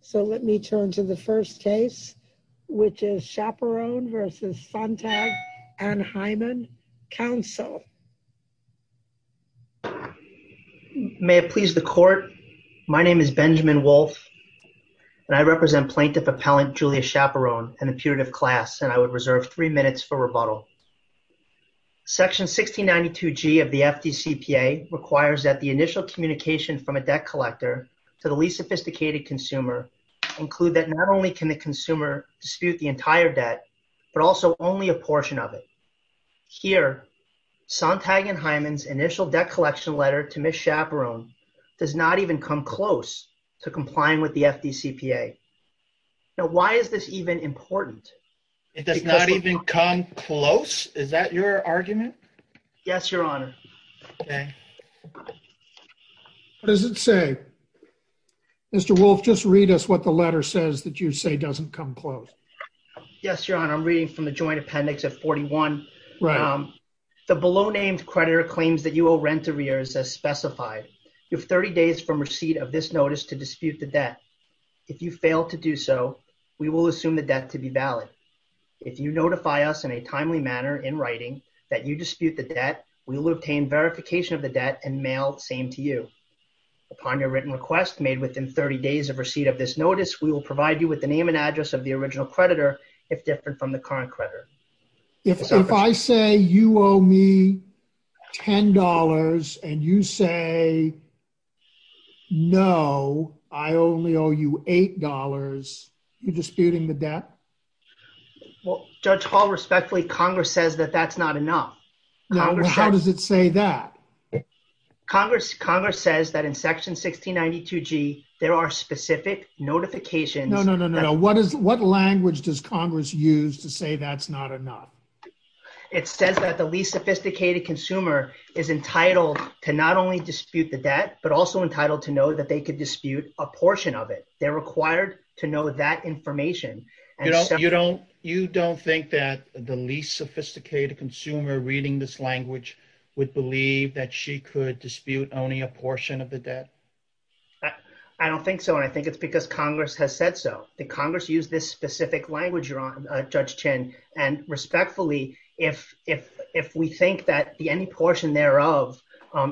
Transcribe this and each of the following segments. So let me turn to the first case, which is Chaperon v. Sontag & Hyman, counsel. May it please the court. My name is Benjamin Wolfe, and I represent Plaintiff Appellant Julia Chaperon and the putative class, and I would reserve three minutes for rebuttal. Section 1692G of the FDCPA requires that the initial communication from a debt collector to the least sophisticated consumer include that not only can the consumer dispute the entire debt, but also only a portion of it. Here, Sontag & Hyman's initial debt collection letter to Ms. Chaperon does not even come close to complying with the FDCPA. Now, why is this even important? It does not even come close? Is that your argument? Yes, Your Honor. Okay. What does it say? Mr. Wolfe, just read us what the letter says that you say doesn't come close. Yes, Your Honor. I'm reading from the joint appendix of 41. Right. The below-named creditor claims that you owe rent arrears as specified. You have 30 days from receipt of this notice to dispute the debt. If you fail to do so, we will assume the debt to be valid. If you notify us in a timely manner in writing that you dispute the debt, we will obtain verification of the debt and mail the same to you. Upon your written request made within 30 days of receipt of this notice, we will provide you with the name and address of the original creditor, if different from the current creditor. If I say you owe me $10 and you say, no, I only owe you $8, you're disputing the debt? Well, Judge Hall, respectfully, Congress says that that's not enough. How does it say that? Congress says that in section 1692G, there are specific notifications. No, no, no, no, no. What language does Congress use to say that's not enough? It says that the least sophisticated consumer is entitled to not only dispute the debt, but also entitled to know that they could dispute a portion of it. They're required to know that information. You don't think that the least sophisticated consumer reading this language would believe that she could dispute only a portion of the debt? I don't think so. And I think it's because Congress has said so. The Congress used this specific language, Judge Chin. And respectfully, if we think that any portion thereof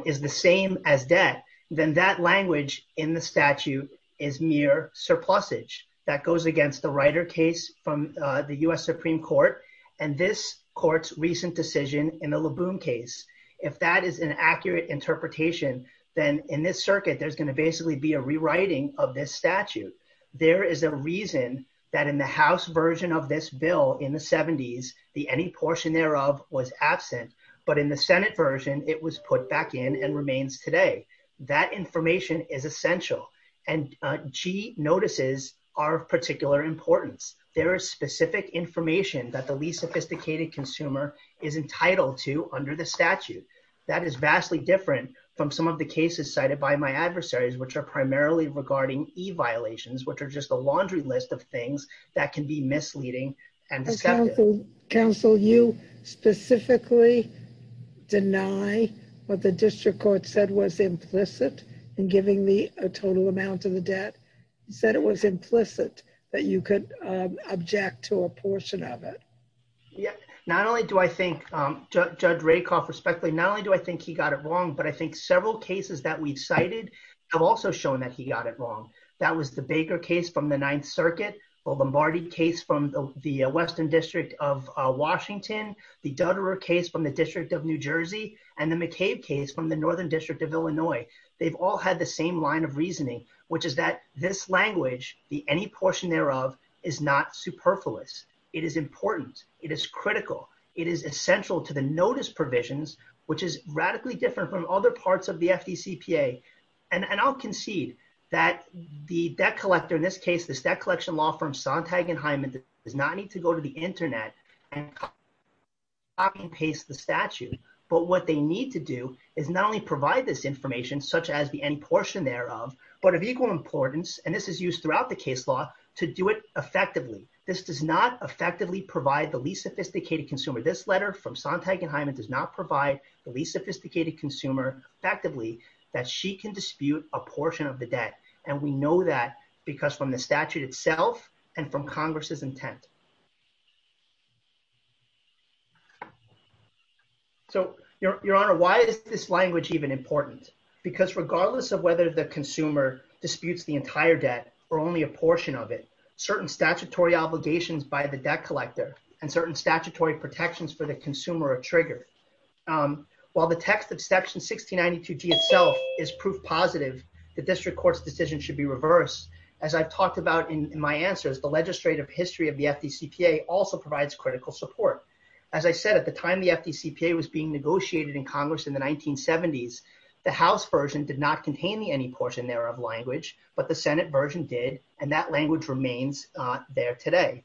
is the same as debt, then that language in the statute is mere surplusage that goes against the writer case from the US Supreme Court. And this court's recent decision in the LeBoon case, if that is an accurate interpretation, then in this circuit, there's gonna basically be a rewriting of this statute. There is a reason that in the House version of this bill in the 70s, the any portion thereof was absent, but in the Senate version, it was put back in and remains today. That information is essential. And G notices are of particular importance. There is specific information that the least sophisticated consumer is entitled to under the statute. That is vastly different from some of the cases cited by my adversaries, which are primarily regarding e-violations, which are just a laundry list of things that can be misleading and deceptive. Counsel, you specifically deny what the district court said was implicit in giving the total amount of the debt. You said it was implicit that you could object to a portion of it. Yeah, not only do I think, Judge Rakoff respectfully, not only do I think he got it wrong, but I think several cases that we've cited have also shown that he got it wrong. That was the Baker case from the Ninth Circuit, or the Marty case from the Western District of Washington, the Dutterer case from the District of New Jersey, and the McCabe case from the Northern District of Illinois. They've all had the same line of reasoning, which is that this language, the any portion thereof, is not superfluous. It is important. It is critical. It is essential to the notice provisions, which is radically different from other parts of the FDCPA. And I'll concede that the debt collector, in this case, this debt collection law firm, Sontag and Hyman, does not need to go to the internet and copy and paste the statute. But what they need to do is not only provide this information, such as the any portion thereof, but of equal importance, and this is used throughout the case law, to do it effectively. This does not effectively provide the least sophisticated consumer. This letter from Sontag and Hyman does not provide the least sophisticated consumer effectively that she can dispute a portion of the debt. And we know that because from the statute itself and from Congress's intent. So, Your Honor, why is this language even important? Because regardless of whether the consumer disputes the entire debt or only a portion of it, certain statutory obligations by the debt collector and certain statutory protections for the consumer are triggered. While the text of section 1692G itself is proof positive, the district court's decision should be reversed. As I've talked about in my answers, the legislative history of the FDCPA also provides critical support. As I said, at the time the FDCPA was being negotiated in Congress in the 1970s, the House version did not contain the any portion thereof language, but the Senate version did, and that language remains there today.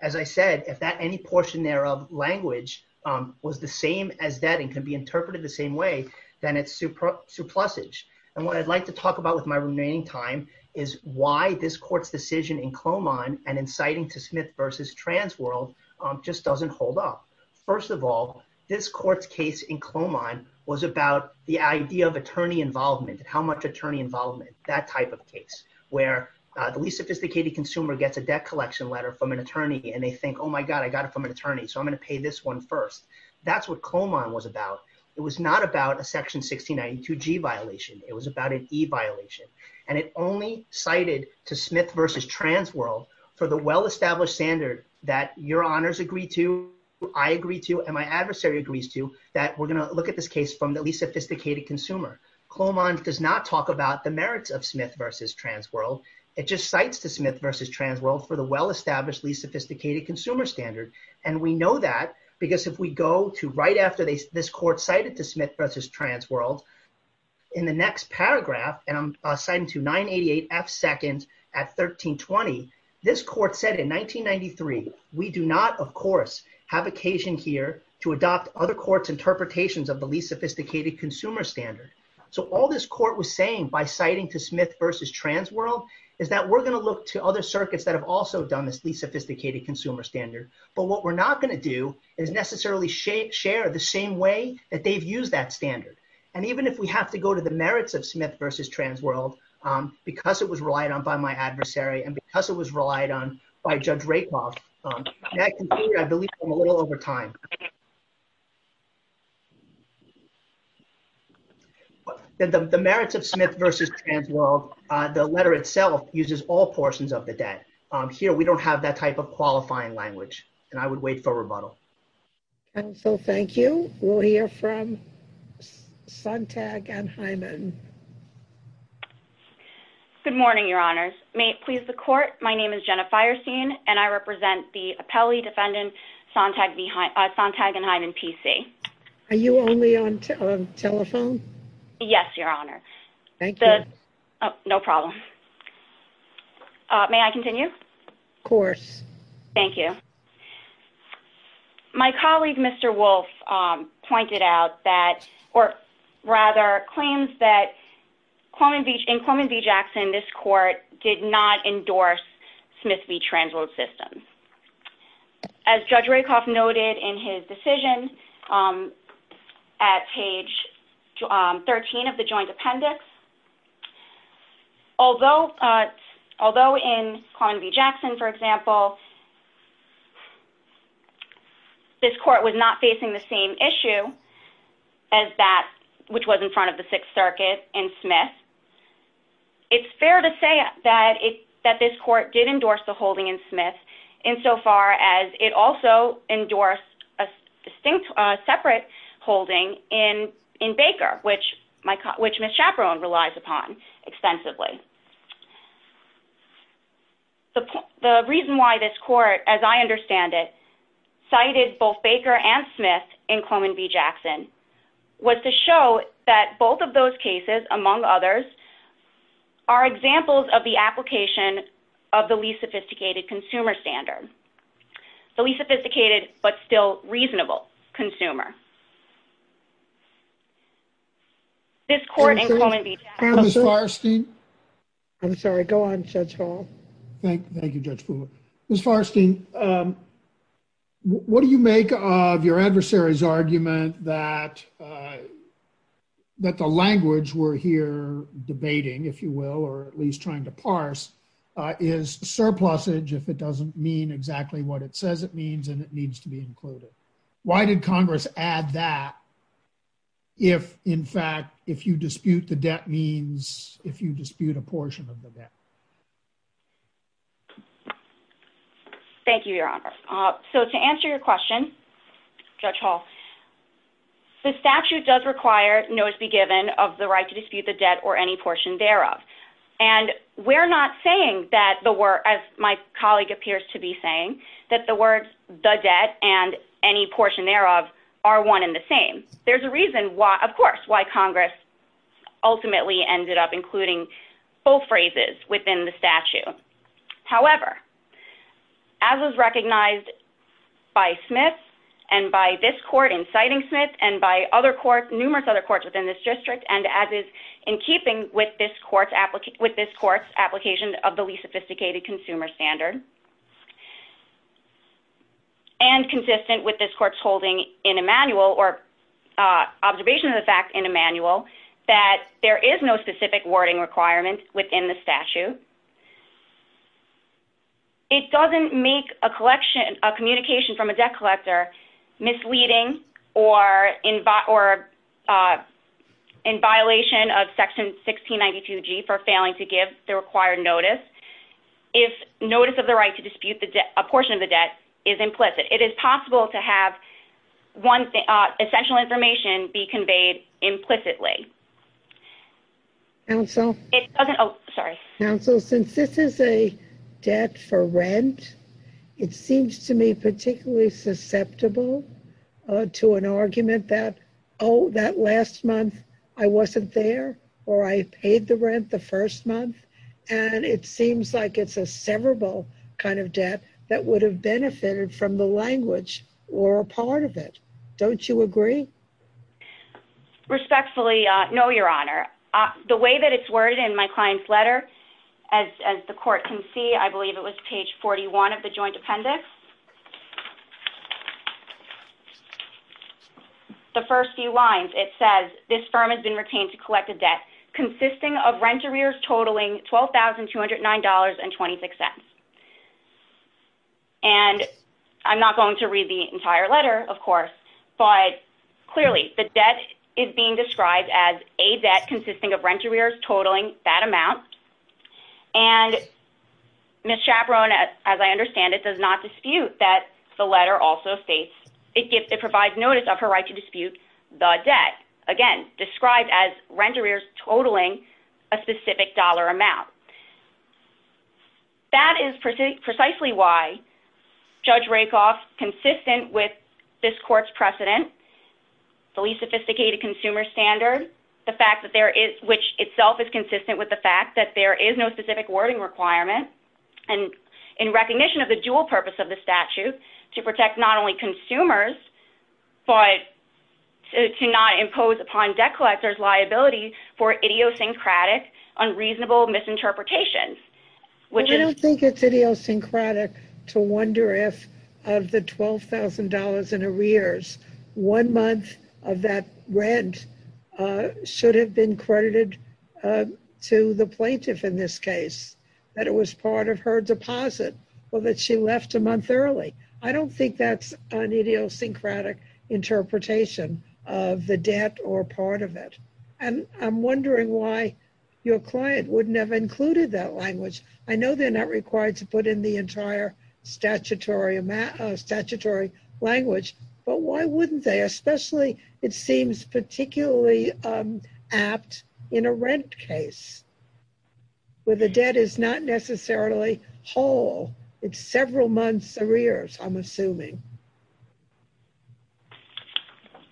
As I said, if that any portion thereof language was the same as debt and can be interpreted the same way, then it's suplussage. And what I'd like to talk about with my remaining time is why this court's decision in Cloman and inciting to Smith versus Transworld just doesn't hold up. First of all, this court's case in Cloman was about the idea of attorney involvement and how much attorney involvement, that type of case, where the least sophisticated consumer gets a debt collection letter from an attorney and they think, oh my God, I got it from an attorney, so I'm gonna pay this one first. That's what Cloman was about. It was not about a section 1692G violation, it was about an E violation. And it only cited to Smith versus Transworld for the well-established standard that your honors agree to, I agree to, and my adversary agrees to, that we're gonna look at this case from the least sophisticated consumer. Cloman does not talk about the merits of Smith versus Transworld, it just cites to Smith versus Transworld for the well-established least sophisticated consumer standard. And we know that because if we go to right after this court cited to Smith versus Transworld, in the next paragraph, and I'm citing to 988F2nd at 1320, this court said in 1993, we do not, of course, have occasion here to adopt other courts interpretations of the least sophisticated consumer standard. So all this court was saying by citing to Smith versus Transworld, is that we're gonna look to other circuits that have also done this least sophisticated consumer standard, but what we're not gonna do is necessarily share the same way that they've used that standard. And even if we have to go to the merits of Smith versus Transworld, because it was relied on by my adversary and because it was relied on by Judge Rakoff, that can be, I believe, a little over time. The merits of Smith versus Transworld, the letter itself uses all portions of the debt. Here, we don't have that type of qualifying language and I would wait for rebuttal. And so thank you. We'll hear from Sontag and Hyman. Good morning, your honors. May it please the court. My name is Jenna Fierseen and I represent the appellee defendant, Sontag and Hyman PC. Are you only on telephone? Yes, your honor. Thank you. No problem. May I continue? Of course. Thank you. My colleague, Mr. Wolf pointed out that, or rather claims that in Coleman v. Jackson, this court did not endorse Smith v. Transworld system. As Judge Rakoff noted in his decision at page 13 of the joint appendix, although in Coleman v. Jackson, for example, this court was not facing the same issue as that, which was in front of the Sixth Circuit and Smith. It's fair to say that this court did endorse the holding in Smith insofar as it also endorsed a distinct, a separate holding in Baker, which Ms. Chaperone relies upon extensively. The reason why this court, as I understand it, cited both Baker and Smith in Coleman v. Jackson was to show that both of those cases, among others, are examples of the application of the least sophisticated consumer standard. The least sophisticated, but still reasonable consumer. This court in Coleman v. Jackson- Ms. Farstein. I'm sorry, go on, Judge Hall. Thank you, Judge Fuller. Ms. Farstein, what do you make of your adversary's argument that the language we're here debating, if you will, or at least trying to parse, is surplusage if it doesn't mean exactly what it says it means and it needs to be included? Why did Congress add that if, in fact, if you dispute the debt means, if you dispute a portion of the debt? Thank you, Your Honor. So to answer your question, Judge Hall, the statute does require notice be given of the right to dispute the debt or any portion thereof. And we're not saying that the word, as my colleague appears to be saying, that the words the debt and any portion thereof are one and the same. There's a reason why, of course, why Congress ultimately ended up including both phrases within the statute. However, as is recognized by Smith and by this court inciting Smith and by numerous other courts within this district and as is in keeping with this court's application of the least sophisticated consumer standard and consistent with this court's holding in a manual or observation of the fact in a manual that there is no specific wording requirement within the statute, it doesn't make a communication from a debt collector misleading or in violation of section 1692G for failing to give the required notice if notice of the right to dispute a portion of the debt is implicit. It is possible to have one essential information be conveyed implicitly. Counsel? It doesn't, oh, sorry. Counsel? Counsel, since this is a debt for rent, it seems to me particularly susceptible to an argument that, oh, that last month I wasn't there or I paid the rent the first month and it seems like it's a severable kind of debt that would have benefited from the language or a part of it. Don't you agree? Respectfully, no, Your Honor. The way that it's worded in my client's letter, as the court can see, I believe it was page 41 of the joint appendix. The first few lines, it says, this firm has been retained to collect a debt consisting of rent arrears totaling $12,209.26. And I'm not going to read the entire letter, of course, but clearly the debt is being described as a debt consisting of rent arrears totaling that amount. And Ms. Chaperone, as I understand it, does not dispute that the letter also states it provides notice of her right to dispute the debt. Again, described as rent arrears totaling a specific dollar amount. That is precisely why Judge Rakoff, consistent with this court's precedent, the least sophisticated consumer standard, the fact that there is, which itself is consistent with the fact that there is no specific wording requirement. And in recognition of the dual purpose of the statute, to protect not only consumers, but to not impose upon debt collectors liability for idiosyncratic, unreasonable misinterpretation. Which is- I don't think it's idiosyncratic to wonder if of the $12,000 in arrears, one month of that rent should have been credited to the plaintiff in this case, that it was part of her deposit, or that she left a month early. I don't think that's an idiosyncratic interpretation of the debt or part of it. And I'm wondering why your client wouldn't have included that language. I know they're not required to put in the entire statutory language, but why wouldn't they, especially it seems particularly apt in a rent case where the debt is not necessarily whole. It's several months arrears, I'm assuming.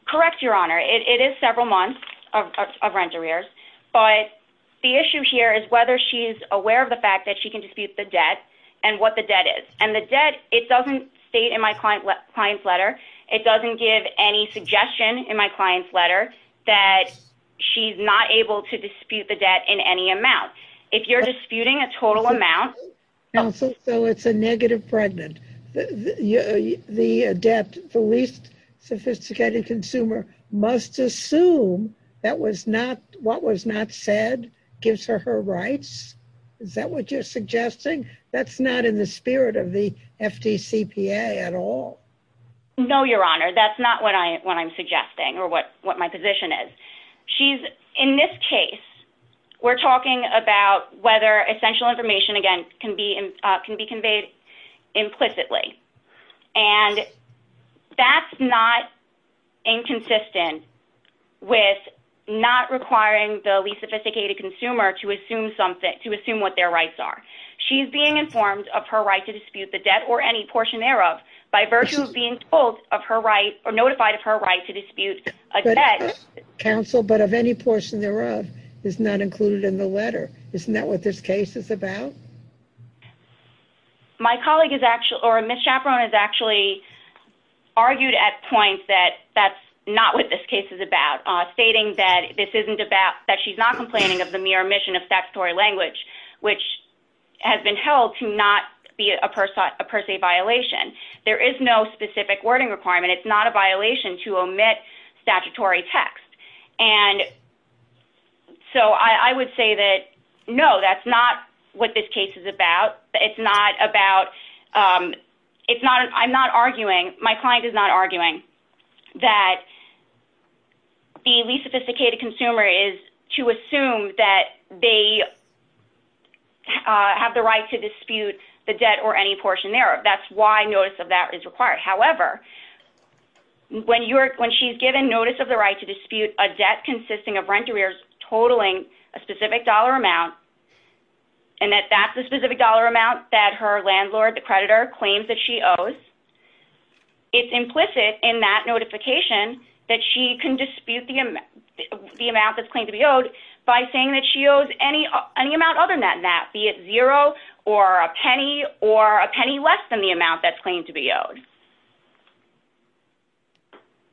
Correct, Your Honor. It is several months of rent arrears, but the issue here is whether she's aware of the fact that she can dispute the debt and what the debt is. And the debt, it doesn't state in my client's letter, it doesn't give any suggestion in my client's letter that she's not able to dispute the debt in any amount. If you're disputing a total amount- Counsel, so it's a negative pregnant. The debt, the least sophisticated consumer must assume that what was not said gives her her rights. Is that what you're suggesting? That's not in the spirit of the FDCPA at all. No, Your Honor, that's not what I'm suggesting or what my position is. She's, in this case, we're talking about whether essential information, again, can be conveyed implicitly. And that's not inconsistent with not requiring the least sophisticated consumer to assume what their rights are. She's being informed of her right to dispute the debt or any portion thereof, by virtue of being told of her right or notified of her right to dispute a debt. Counsel, but of any portion thereof is not included in the letter. Isn't that what this case is about? My colleague is actually, or Ms. Chaperone has actually argued at points that that's not what this case is about, stating that this isn't about, that she's not complaining of the mere omission of statutory language, which has been held to not be a per se violation. There is no specific wording requirement. It's not a violation to omit statutory text. And so I would say that, no, that's not what this case is about. It's not about, I'm not arguing, my client is not arguing that the least sophisticated consumer is to assume that they have the right to dispute the debt or any portion thereof. That's why notice of that is required. However, when she's given notice of the right to dispute a debt consisting of rent arrears, totaling a specific dollar amount, and that that's the specific dollar amount that her landlord, the creditor, claims that she owes, it's implicit in that notification that she can dispute the amount that's claimed to be owed by saying that she owes any amount other than that, be it zero or a penny or a penny less than the amount that's claimed to be owed.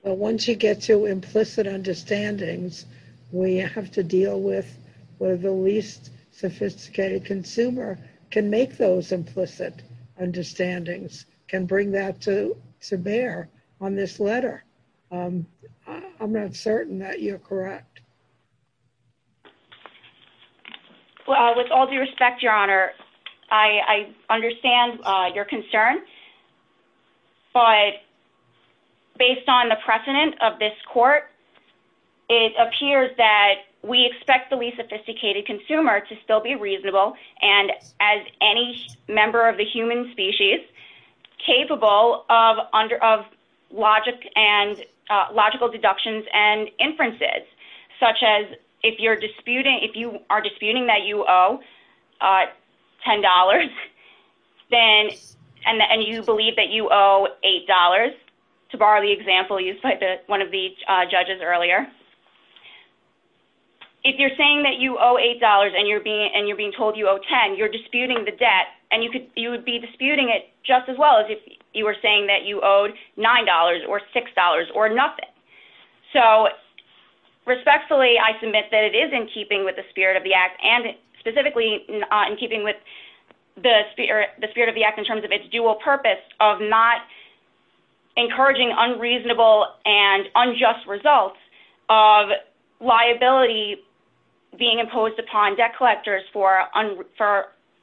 But once you get to implicit understandings, we have to deal with where the least sophisticated consumer can make those implicit understandings, can bring that to bear on this letter. I'm not certain that you're correct. Well, with all due respect, Your Honor, I understand your concern, but based on the precedent of this court, it appears that we expect the least sophisticated consumer to still be reasonable. And as any member of the human species, capable of logic and logical deductions and inferences, such as if you are disputing that you owe $10, and you believe that you owe $8, to borrow the example used by one of the judges earlier. If you're saying that you owe $8 and you're being told you owe 10, you're disputing the debt and you would be disputing it just as well as if you were saying that you owed $9 or $6 or nothing. So respectfully, I submit that it is in keeping with the spirit of the act and specifically in keeping with the spirit of the act in terms of its dual purpose of not encouraging unreasonable and unjust results of liability being imposed upon debt collectors for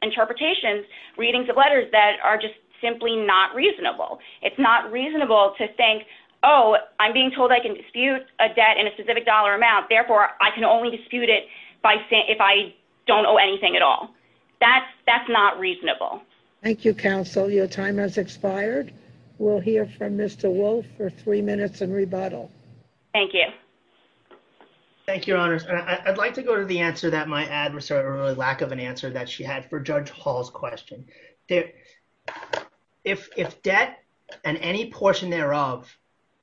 interpretations, readings of letters that are just simply not reasonable. It's not reasonable to think, oh, I'm being told I can dispute a debt in a specific dollar amount, therefore I can only dispute it if I don't owe anything at all. That's not reasonable. Thank you, counsel. Your time has expired. We'll hear from Mr. Wolf for three minutes and rebuttal. Thank you. Thank you, your honors. I'd like to go to the answer that my adversary, or lack of an answer that she had for Judge Hall's question. If debt and any portion thereof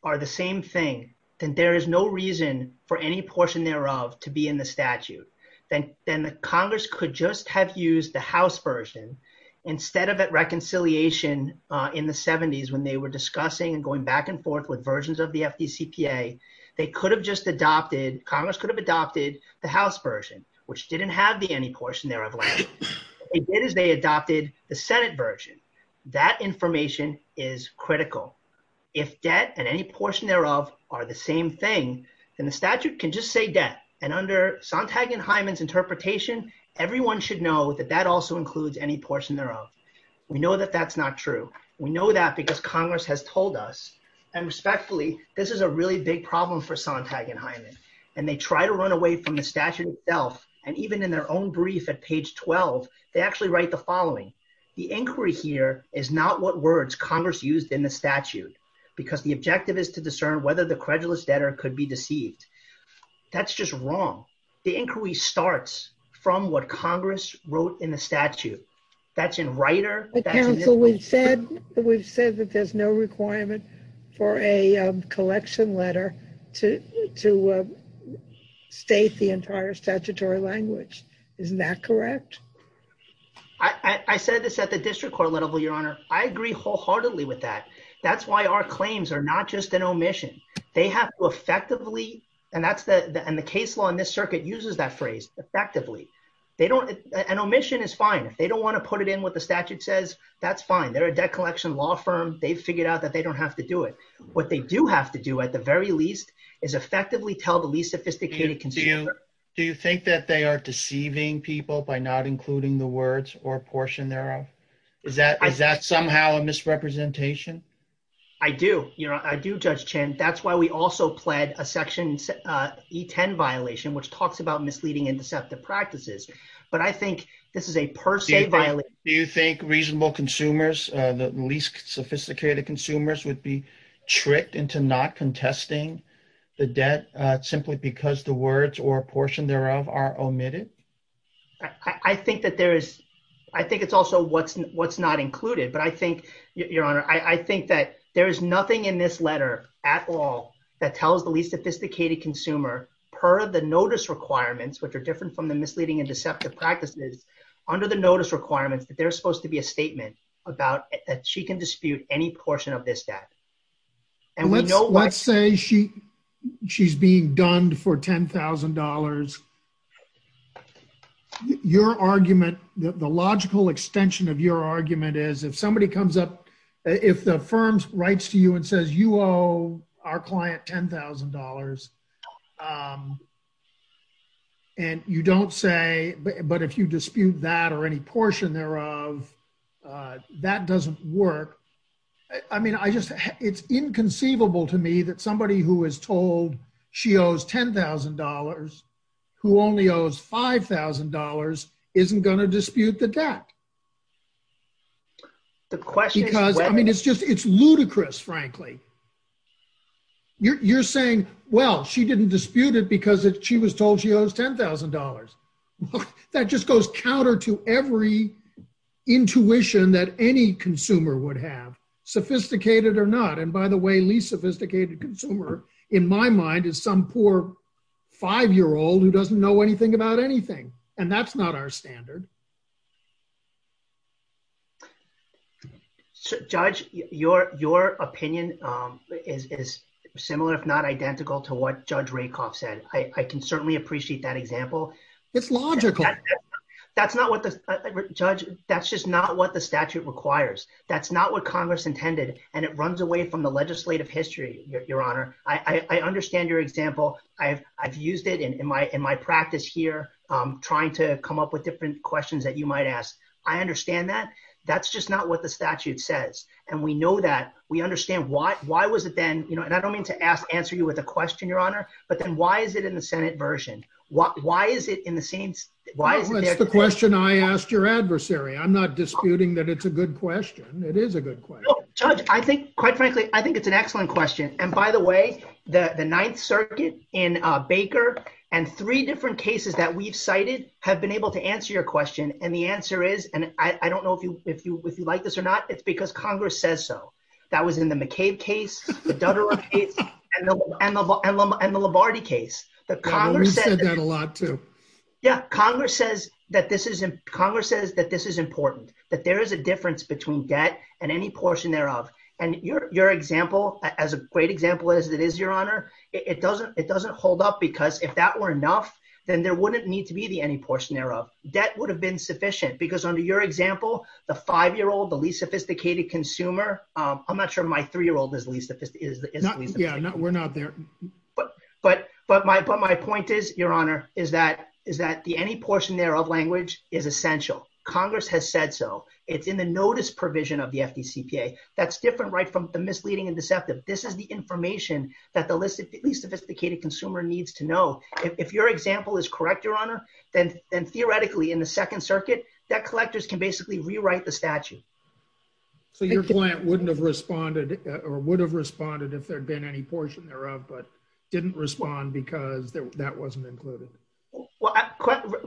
are the same thing, then there is no reason for any portion thereof to be in the statute. Then Congress could just have used the House version instead of at reconciliation in the 70s when they were discussing and going back and forth with versions of the FDCPA. They could have just adopted, Congress could have adopted the House version, which didn't have the any portion thereof. They did as they adopted the Senate version. That information is critical. If debt and any portion thereof are the same thing, then the statute can just say debt. And under Sontag and Hyman's interpretation, everyone should know that that also includes any portion thereof. We know that that's not true. We know that because Congress has told us and respectfully, this is a really big problem for Sontag and Hyman. And they try to run away from the statute itself. And even in their own brief at page 12, they actually write the following. The inquiry here is not what words Congress used in the statute, because the objective is to discern whether the credulous debtor could be deceived. That's just wrong. The inquiry starts from what Congress wrote in the statute. That's in writer. The council, we've said that there's no requirement for a collection letter to state the entire statutory language. Isn't that correct? I said this at the district court level, Your Honor. I agree wholeheartedly with that. That's why our claims are not just an omission. They have to effectively, and the case law in this circuit uses that phrase, effectively. An omission is fine. If they don't wanna put it in what the statute says, that's fine. They're a debt collection law firm. They've figured out that they don't have to do it. What they do have to do at the very least is effectively tell the least sophisticated consumer. Do you think that they are deceiving people by not including the words or portion thereof? Is that somehow a misrepresentation? I do, Your Honor. I do, Judge Chin. That's why we also pled a section E10 violation, which talks about misleading and deceptive practices. But I think this is a per se violation. Do you think reasonable consumers, the least sophisticated consumers would be tricked into not contesting the debt simply because the words or portion thereof are omitted? I think it's also what's not included. But I think, Your Honor, I think that there is nothing in this letter at all that tells the least sophisticated consumer per the notice requirements, which are different from the misleading and deceptive practices, under the notice requirements that there's supposed to be a statement about that she can dispute any portion of this debt. And we know what- Let's say she's being done for $10,000. Your argument, the logical extension of your argument is if somebody comes up, if the firm writes to you and says, you owe our client $10,000, and you don't say, but if you dispute that or any portion thereof, that doesn't work. I mean, I just, it's inconceivable to me that somebody who is told she owes $10,000, who only owes $5,000, isn't gonna dispute the debt. The question- Because, I mean, it's just, it's ludicrous, frankly. You're saying, well, she didn't dispute it because she was told she owes $10,000. That just goes counter to every intuition that any consumer would have, sophisticated or not. And by the way, least sophisticated consumer, in my mind, is some poor five-year-old who doesn't know anything about anything. And that's not our standard. Judge, your opinion is similar, if not identical to what Judge Rakoff said. I can certainly appreciate that example. It's logical. That's not what the, Judge, that's just not what the statute requires. That's not what Congress intended, and it runs away from the legislative history, Your Honor. I understand your example. I've used it in my practice here, trying to come up with different questions that you might ask. I understand that. That's just not what the statute says. And we know that. We understand why was it then, and I don't mean to answer you with a question, Your Honor, but then why is it in the Senate version? Why is it in the same, why is it there? That's the question I asked your adversary. I'm not disputing that it's a good question. It is a good question. No, Judge, I think, quite frankly, I think it's an excellent question. And by the way, the Ninth Circuit in Baker and three different cases that we've cited have been able to answer your question. And the answer is, and I don't know if you like this or not, it's because Congress says so. That was in the McCabe case, the Dutterer case, and the Lombardi case. The Congress said that a lot too. Yeah, Congress says that this is important, that there is a difference between debt and any portion thereof. And your example, as a great example as it is, Your Honor, it doesn't hold up because if that were enough, then there wouldn't need to be the any portion thereof. Debt would have been sufficient because under your example, the five-year-old, the least sophisticated consumer, I'm not sure my three-year-old is least sophisticated. Yeah, we're not there. But my point is, Your Honor, is that the any portion thereof language is essential. Congress has said so. It's in the notice provision of the FDCPA. That's different, right, from the misleading and deceptive. This is the information that the least sophisticated consumer needs to know. If your example is correct, Your Honor, then theoretically in the Second Circuit, debt collectors can basically rewrite the statute. So your client wouldn't have responded or would have responded if there'd been any portion thereof, but didn't respond because that wasn't included. Well,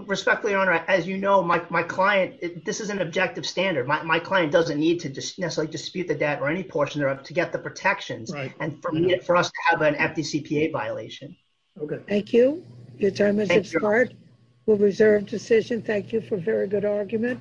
respectfully, Your Honor, as you know, my client, this is an objective standard. My client doesn't need to necessarily dispute the debt or any portion thereof to get the protections and for us to have an FDCPA violation. Okay. Thank you. Your time has expired. We'll reserve decision. Thank you for a very good argument.